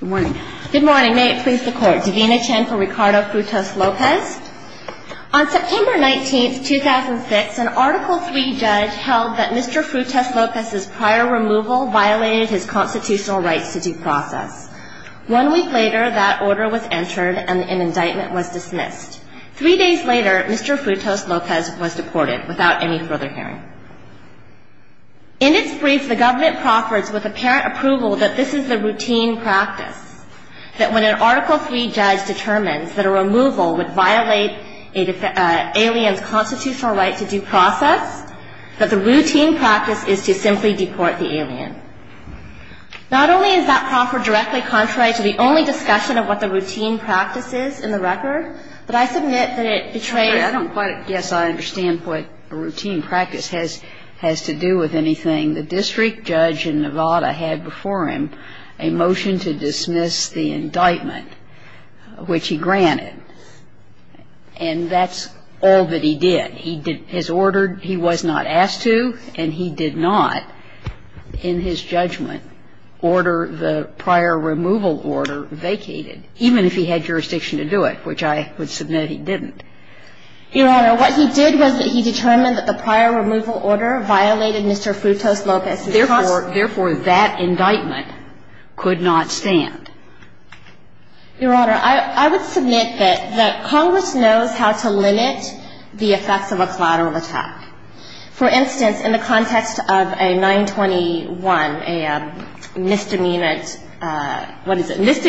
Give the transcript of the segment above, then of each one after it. Good morning. May it please the Court. Davina Chen for Ricardo Frutos-Lopez. On September 19, 2006, an Article III judge held that Mr. Frutos-Lopez's prior removal violated his constitutional rights to due process. One week later, that order was entered and an indictment was dismissed. Three days later, Mr. Frutos-Lopez was deported without any further hearing. In its brief, the government proffers with apparent approval that this is the routine practice. That when an Article III judge determines that a removal would violate an alien's constitutional right to due process, that the routine practice is to simply deport the alien. Not only is that proffer directly contrary to the only discussion of what the routine practice is in the record, but I submit that it betrays I understand what routine practice has to do with anything. The district judge in Nevada had before him a motion to dismiss the indictment, which he granted. And that's all that he did. He did his order. He was not asked to, and he did not, in his judgment, order the prior removal order vacated, even if he had jurisdiction to do it, which I would submit he didn't. Your Honor, what he did was that he determined that the prior removal order violated Mr. Frutos-Lopez. Therefore, that indictment could not stand. Your Honor, I would submit that Congress knows how to limit the effects of a collateral attack. For instance, in the context of a 921, a misdemeanor, what is it,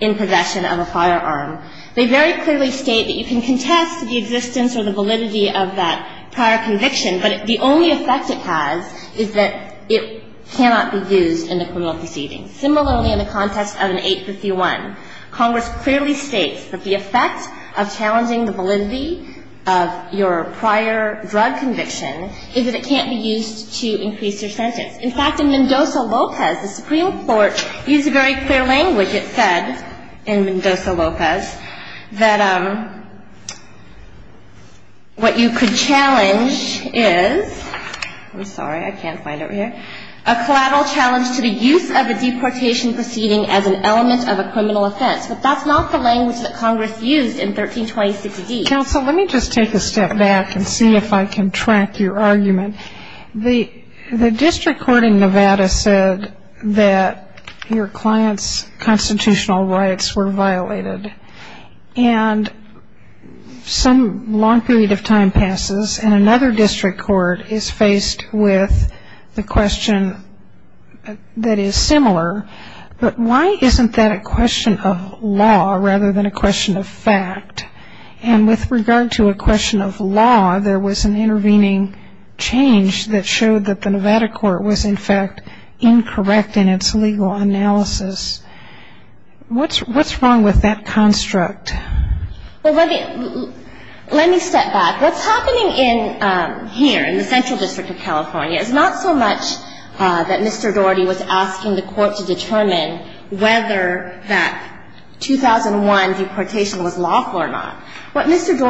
in possession of a firearm. They very clearly state that you can contest the existence or the validity of that prior conviction, but the only effect it has is that it cannot be used in the criminal proceedings. Similarly, in the context of an 851, Congress clearly states that the effect of challenging the validity of your prior drug conviction is that it can't be used to increase your sentence. In fact, in Mendoza-Lopez, the Supreme Court used very clear language. It said in Mendoza-Lopez that what you could challenge is, I'm sorry, I can't find it over here, a collateral challenge to the use of a deportation proceeding as an element of a criminal offense. But that's not the language that Congress used in 1326D. Counsel, let me just take a step back and see if I can track your argument. The district court in Nevada said that your client's constitutional rights were violated. And some long period of time passes, and another district court is faced with the question that is similar, but why isn't that a question of law rather than a question of fact? And with regard to a question of law, there was an intervening change that showed that the Nevada court was, in fact, incorrect in its legal analysis. What's wrong with that construct? Well, let me step back. What's happening here in the central district of California is not so much that Mr. Dorey, that's the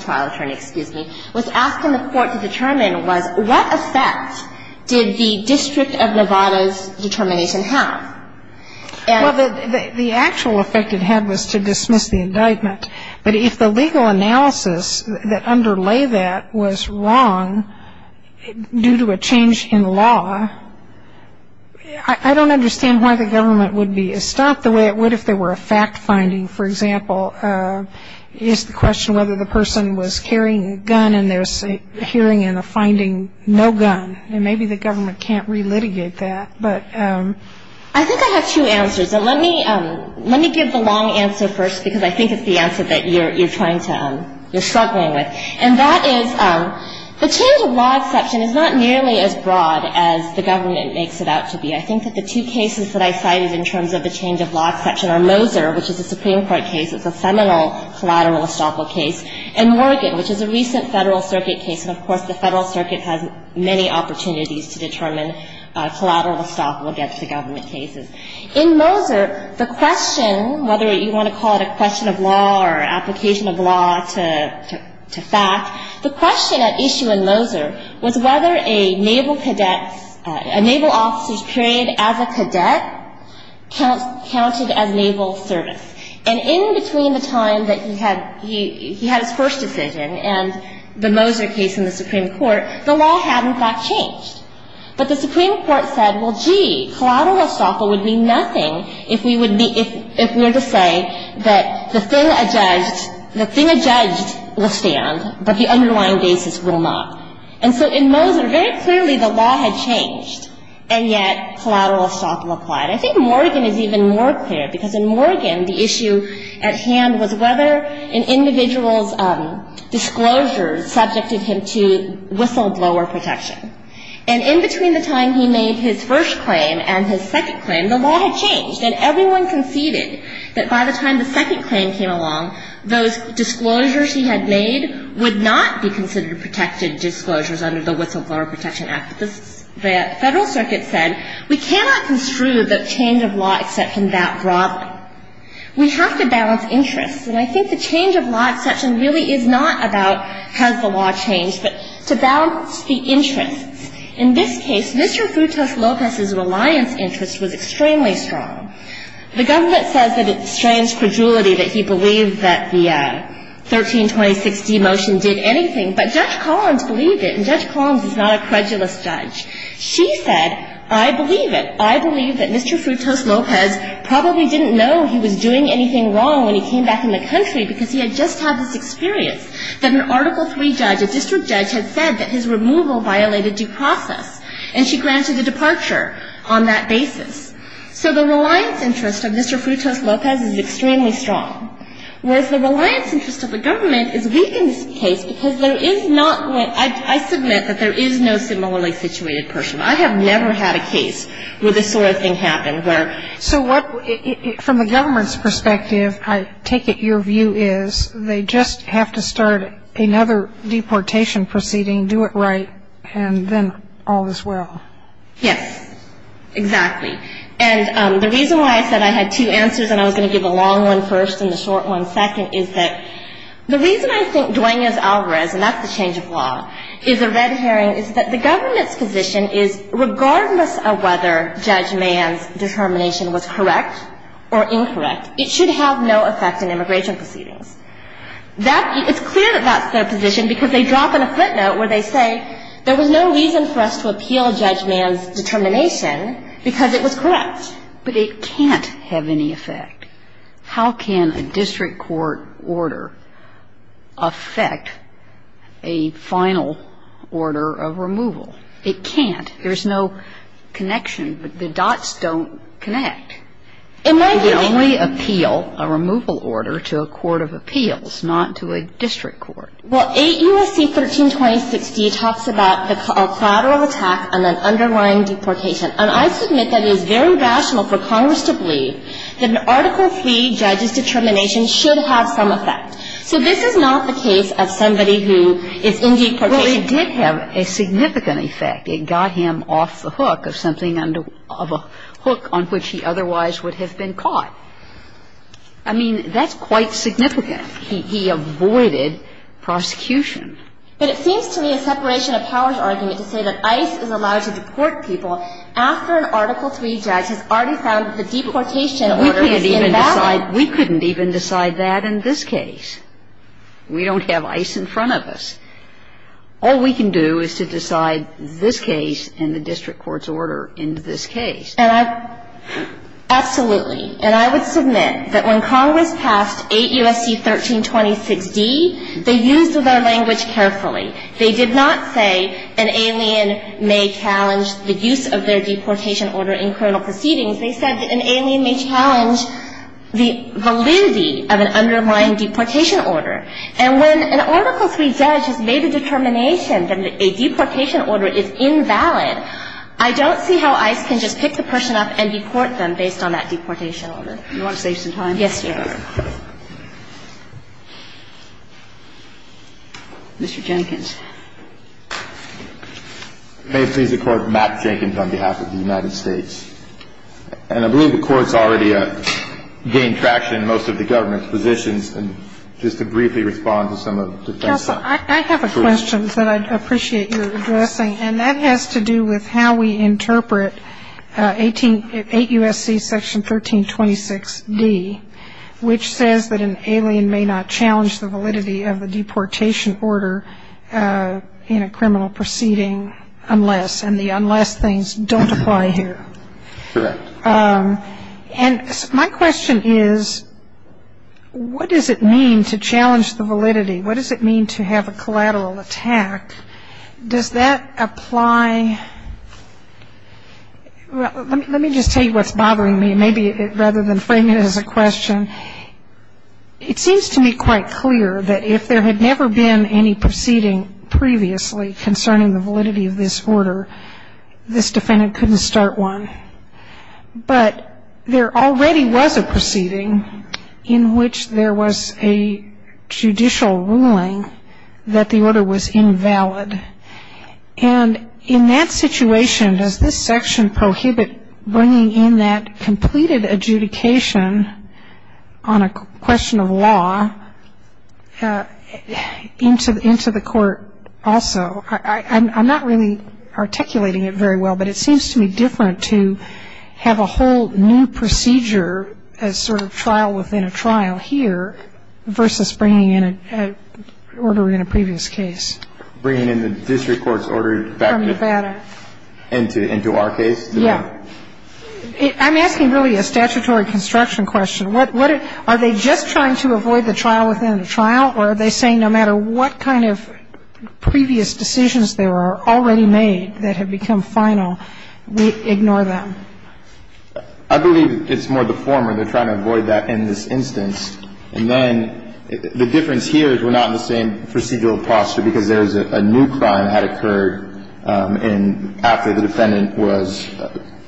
trial attorney, excuse me, was asking the court to determine was what effect did the district of Nevada's determination have? Well, the actual effect it had was to dismiss the indictment. But if the legal analysis that underlay that was wrong due to a change in law, I don't understand why the government would be as stopped the way it would if there were a fact finding. For example, is the question whether the person was carrying a gun and there's a hearing in the finding no gun. And maybe the government can't relitigate that. But I think I have two answers. And let me give the long answer first because I think it's the answer that you're trying to, you're struggling with. And that is the change of law exception is not nearly as broad as the government makes it out to be. I think that the two cases that I cited in terms of the change of law exception are Moser, which is a Supreme Court case. It's a seminal collateral estoppel case. And Morgan, which is a recent Federal Circuit case. And, of course, the Federal Circuit has many opportunities to determine collateral estoppel against the government cases. In Moser, the question, whether you want to call it a question of law or application of law to fact, the question at issue in Moser was whether a naval cadet, a naval officer's period as a cadet counted as naval service. And in between the time that he had his first decision and the Moser case in the Supreme Court, the law had, in fact, changed. But the Supreme Court said, well, gee, collateral estoppel would mean nothing if we would be, if we were to say that the thing adjudged, the thing adjudged will stand, but the underlying basis will not. And so in Moser, very clearly, the law had changed. And yet collateral estoppel applied. I think Morgan is even more clear because in Morgan, the issue at hand was whether an individual's disclosure subjected him to whistleblower protection. And in between the time he made his first claim and his second claim, the law had changed. And everyone conceded that by the time the second claim came along, those disclosures he had made would not be considered protected disclosures under the Whistleblower Protection Act. But the Federal Circuit said, we cannot construe the change of law exception that broadly. We have to balance interests. And I think the change of law exception really is not about has the law changed, but to balance the interests. In this case, Mr. Frutos-Lopez's reliance interest was extremely strong. The government says that it's strange credulity that he believed that the 1326d motion did anything, but Judge Collins believed it. And Judge Collins is not a credulous judge. She said, I believe it. I believe that Mr. Frutos-Lopez probably didn't know he was doing anything wrong when he came back in the country because he had just had this experience that an Article III judge, a district judge, had said that his removal violated due process. And she granted a departure on that basis. So the reliance interest of Mr. Frutos-Lopez is extremely strong, whereas the reliance interest of the government is weak in this case because there is not one. I submit that there is no similarly situated person. I have never had a case where this sort of thing happened. So from the government's perspective, I take it your view is they just have to start another deportation proceeding, do it right, and then all is well. Yes, exactly. And the reason why I said I had two answers and I was going to give a long one first and a short one second is that the reason I think and that's the change of law, is a red herring, is that the government's position is regardless of whether Judge Mann's determination was correct or incorrect, it should have no effect in immigration proceedings. It's clear that that's their position because they drop in a footnote where they say there was no reason for us to appeal Judge Mann's determination because it was correct. But it can't have any effect. How can a district court order affect a final order of removal? It can't. There's no connection. The dots don't connect. You can only appeal a removal order to a court of appeals, not to a district court. Well, 8 U.S.C. 132060 talks about a collateral attack and an underlying deportation. And I submit that it is very rational for Congress to believe that an article 3 judge's determination should have some effect. So this is not the case of somebody who is indeed protected. Well, it did have a significant effect. It got him off the hook of something under of a hook on which he otherwise would have been caught. I mean, that's quite significant. He avoided prosecution. But it seems to me a separation of powers argument to say that ICE is allowed to deport people after an article 3 judge has already found the deportation order is invalid. We couldn't even decide that in this case. We don't have ICE in front of us. All we can do is to decide this case and the district court's order in this case. And I — absolutely. And I would submit that when Congress passed 8 U.S.C. 132060, they used their language carefully. They did not say an alien may challenge the use of their deportation order in criminal proceedings. They said that an alien may challenge the validity of an underlying deportation order. And when an article 3 judge has made a determination that a deportation order is invalid, I don't see how ICE can just pick the person up and deport them based on that deportation order. Do you want to save some time? Yes, Your Honor. Mr. Jenkins. May it please the Court, Matt Jenkins on behalf of the United States. And I believe the Court's already gained traction in most of the government's positions. And just to briefly respond to some of the defense's questions. I have a question that I'd appreciate your addressing. And that has to do with how we interpret 8 U.S.C. section 1326D, which says that an alien may not challenge the validity of a deportation order in a criminal proceeding unless, and the unless things don't apply here. Correct. And my question is, what does it mean to challenge the validity? What does it mean to have a collateral attack? Does that apply? Let me just tell you what's bothering me. Maybe rather than frame it as a question, it seems to me quite clear that if there had never been any proceeding previously concerning the validity of this order, this defendant couldn't start one. But there already was a proceeding in which there was a judicial ruling that the order was invalid. And in that situation, does this section prohibit bringing in that completed adjudication on a question of law into the court also? I'm not really articulating it very well, but it seems to me different to have a whole new procedure as sort of trial within a trial here versus bringing in an order in a previous case. Bringing in the district court's order back from Nevada into our case? Yeah. I'm asking really a statutory construction question. Are they just trying to avoid the trial within the trial, or are they saying no matter what kind of previous decisions there are already made that have become final, we ignore them? I believe it's more the former. They're trying to avoid that in this instance. And then the difference here is we're not in the same procedural posture because there is a new crime that had occurred after the defendant was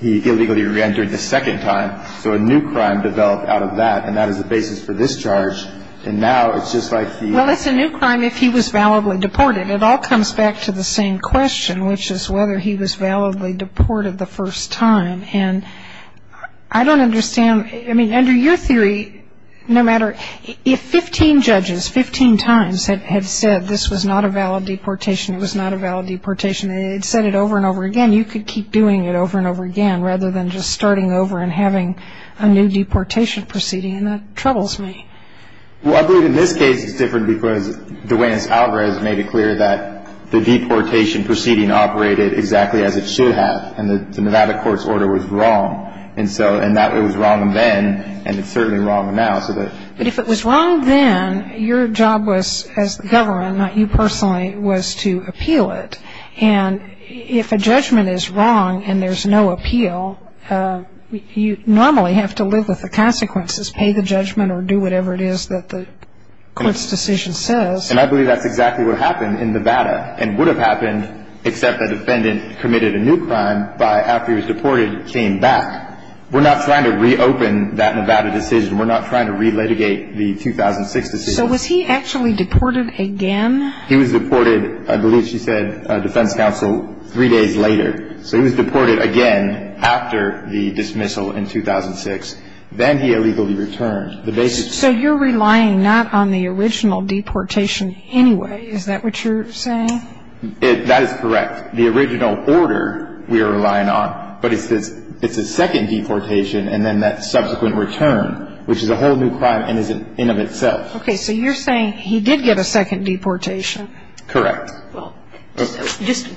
illegally reentered the second time. So a new crime developed out of that, and that is the basis for this charge. And now it's just like the... Well, it's a new crime if he was validly deported. It all comes back to the same question, which is whether he was validly deported the first time. And I don't understand. I mean, under your theory, no matter if 15 judges, 15 times, had said this was not a valid deportation, it was not a valid deportation, and had said it over and over again, you could keep doing it over and over again rather than just starting over and having a new deportation proceeding, and that troubles me. Well, I believe in this case it's different because DeWayne's algorithm made it clear that the deportation proceeding operated exactly as it should have, and that the Nevada court's order was wrong. And so it was wrong then, and it's certainly wrong now. But if it was wrong then, your job was, as the government, not you personally, was to appeal it. And if a judgment is wrong and there's no appeal, you normally have to live with the consequences, pay the judgment or do whatever it is that the court's decision says. And I believe that's exactly what happened in Nevada, and would have happened except the defendant committed a new crime after he was deported and came back. We're not trying to reopen that Nevada decision. We're not trying to re-litigate the 2006 decision. So was he actually deported again? He was deported, I believe she said, defense counsel, three days later. So he was deported again after the dismissal in 2006. Then he illegally returned. So you're relying not on the original deportation anyway. Is that what you're saying? That is correct. The original order we are relying on, but it's a second deportation and then that subsequent return, which is a whole new crime in and of itself. Okay. So you're saying he did get a second deportation. Correct. Just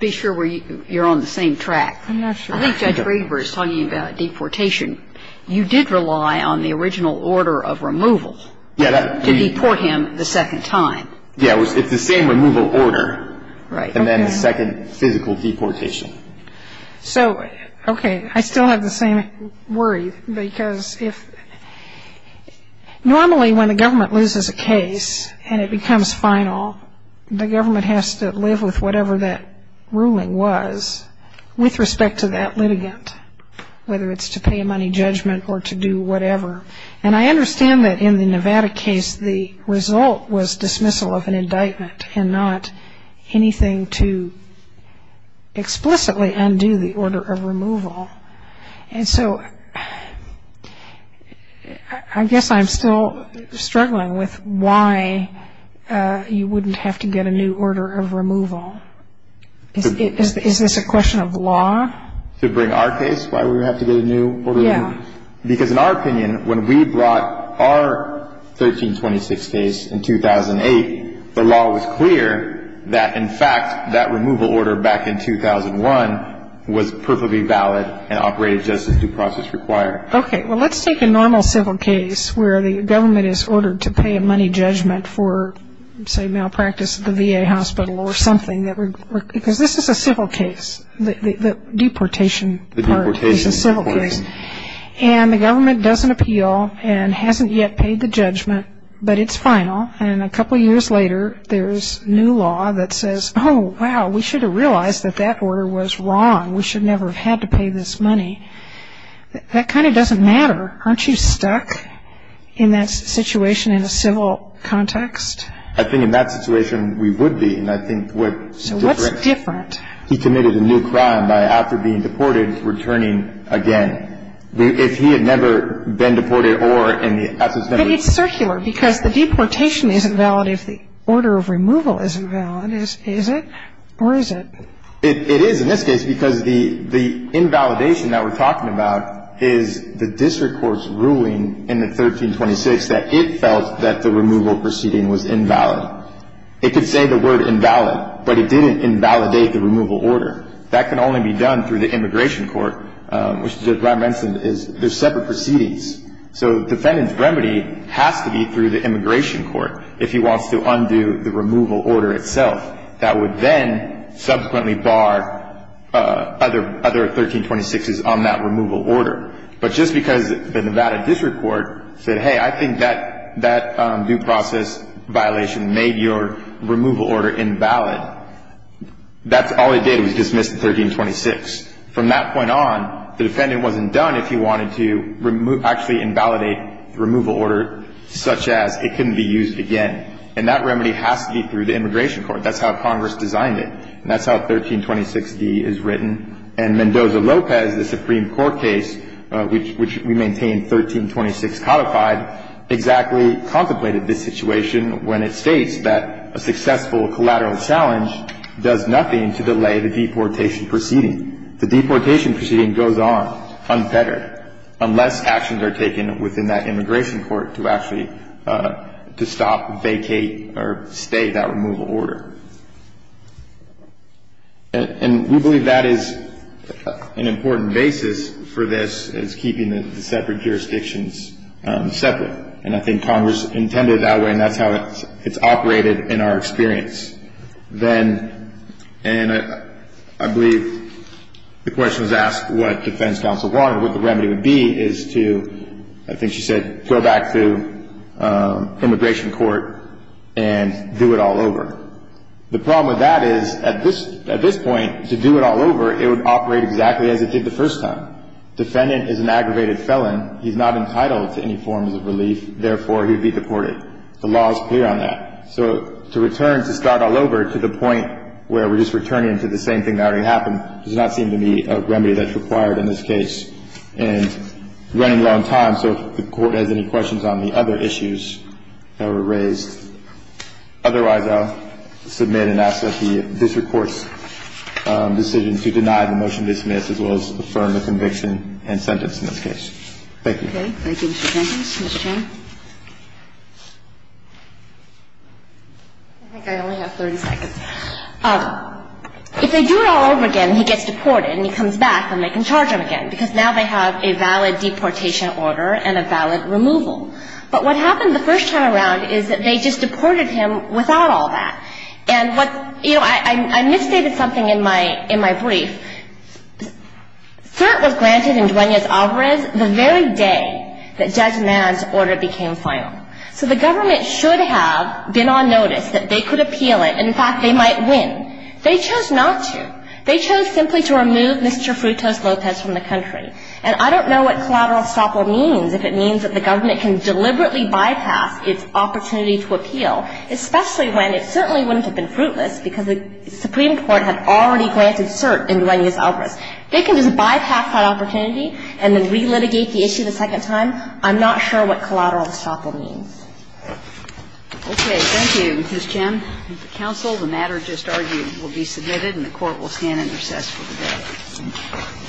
be sure you're on the same track. I'm not sure. I think Judge Greenberg is talking about deportation. You did rely on the original order of removal to deport him the second time. Yeah. It's the same removal order. Right. And then the second physical deportation. So, okay. I still have the same worry because if normally when the government loses a case and it becomes final, the government has to live with whatever that ruling was with respect to that litigant, whether it's to pay a money judgment or to do whatever. And I understand that in the Nevada case the result was dismissal of an indictment and not anything to explicitly undo the order of removal. And so I guess I'm still struggling with why you wouldn't have to get a new order of removal. Is this a question of law? To bring our case? Why would we have to get a new order of removal? Yeah. Because in our opinion, when we brought our 1326 case in 2008, the law was clear that, in fact, that removal order back in 2001 was perfectly valid and operated just as due process required. Okay. Well, let's take a normal civil case where the government is ordered to pay a money judgment for, say, malpractice at the VA hospital or something. Because this is a civil case. The deportation part is a civil case. And the government doesn't appeal and hasn't yet paid the judgment, but it's final. And a couple years later there's new law that says, oh, wow, we should have realized that that order was wrong. We should never have had to pay this money. That kind of doesn't matter. Aren't you stuck in that situation in a civil context? I think in that situation we would be. And I think what's different. So what's different? He committed a new crime by after being deported returning again. If he had never been deported or in the absence of memory. It's circular because the deportation isn't valid if the order of removal isn't valid, is it? Or is it? It is in this case because the invalidation that we're talking about is the district court's ruling in the 1326 that it felt that the removal proceeding was invalid. It could say the word invalid, but it didn't invalidate the removal order. That can only be done through the immigration court, which, as Ron mentioned, is there's separate proceedings. So the defendant's remedy has to be through the immigration court if he wants to undo the removal order itself. That would then subsequently bar other 1326s on that removal order. But just because the Nevada district court said, hey, I think that due process violation made your removal order invalid, that's all it did was dismiss the 1326. From that point on, the defendant wasn't done if he wanted to actually invalidate the removal order such as it couldn't be used again. And that remedy has to be through the immigration court. That's how Congress designed it. And that's how 1326d is written. And Mendoza-Lopez, the Supreme Court case, which we maintain 1326 codified, exactly contemplated this situation when it states that a successful collateral challenge does nothing to delay the deportation proceeding. The deportation proceeding goes on, unfettered, unless actions are taken within that immigration court to actually to stop, vacate, or stay that removal order. And we believe that is an important basis for this, is keeping the separate jurisdictions separate. And I think Congress intended it that way, and that's how it's operated in our experience. And I believe the question was asked what defense counsel wanted, what the remedy would be, is to, I think she said, go back to immigration court and do it all over. The problem with that is, at this point, to do it all over, it would operate exactly as it did the first time. Defendant is an aggravated felon. He's not entitled to any forms of relief. Therefore, he would be deported. The law is clear on that. So to return to start all over to the point where we're just returning to the same thing that already happened does not seem to be a remedy that's required in this case. And we're running low on time, so if the Court has any questions on the other issues that were raised. Otherwise, I'll submit and ask that the district court's decision to deny the motion dismissed as well as affirm the conviction and sentence in this case. Thank you. Okay. Thank you, Mr. Jenkins. Ms. Chang. I think I only have 30 seconds. If they do it all over again, he gets deported and he comes back and they can charge him again because now they have a valid deportation order and a valid removal. But what happened the first time around is that they just deported him without all that. And what, you know, I misstated something in my brief. CERT was granted in Dueñas Alvarez the very day that Judge Madd's order became final. So the government should have been on notice that they could appeal it. In fact, they might win. They chose not to. They chose simply to remove Mr. Frutos Lopez from the country. And I don't know what collateral estoppel means, if it means that the government can deliberately bypass its opportunity to appeal, especially when it certainly wouldn't have been fruitless because the Supreme Court had already granted CERT in Dueñas Alvarez. They can just bypass that opportunity and then relitigate the issue the second time. I'm not sure what collateral estoppel means. Okay. Thank you, Ms. Chang. Counsel, the matter just argued will be submitted and the Court will stand in recess for the day.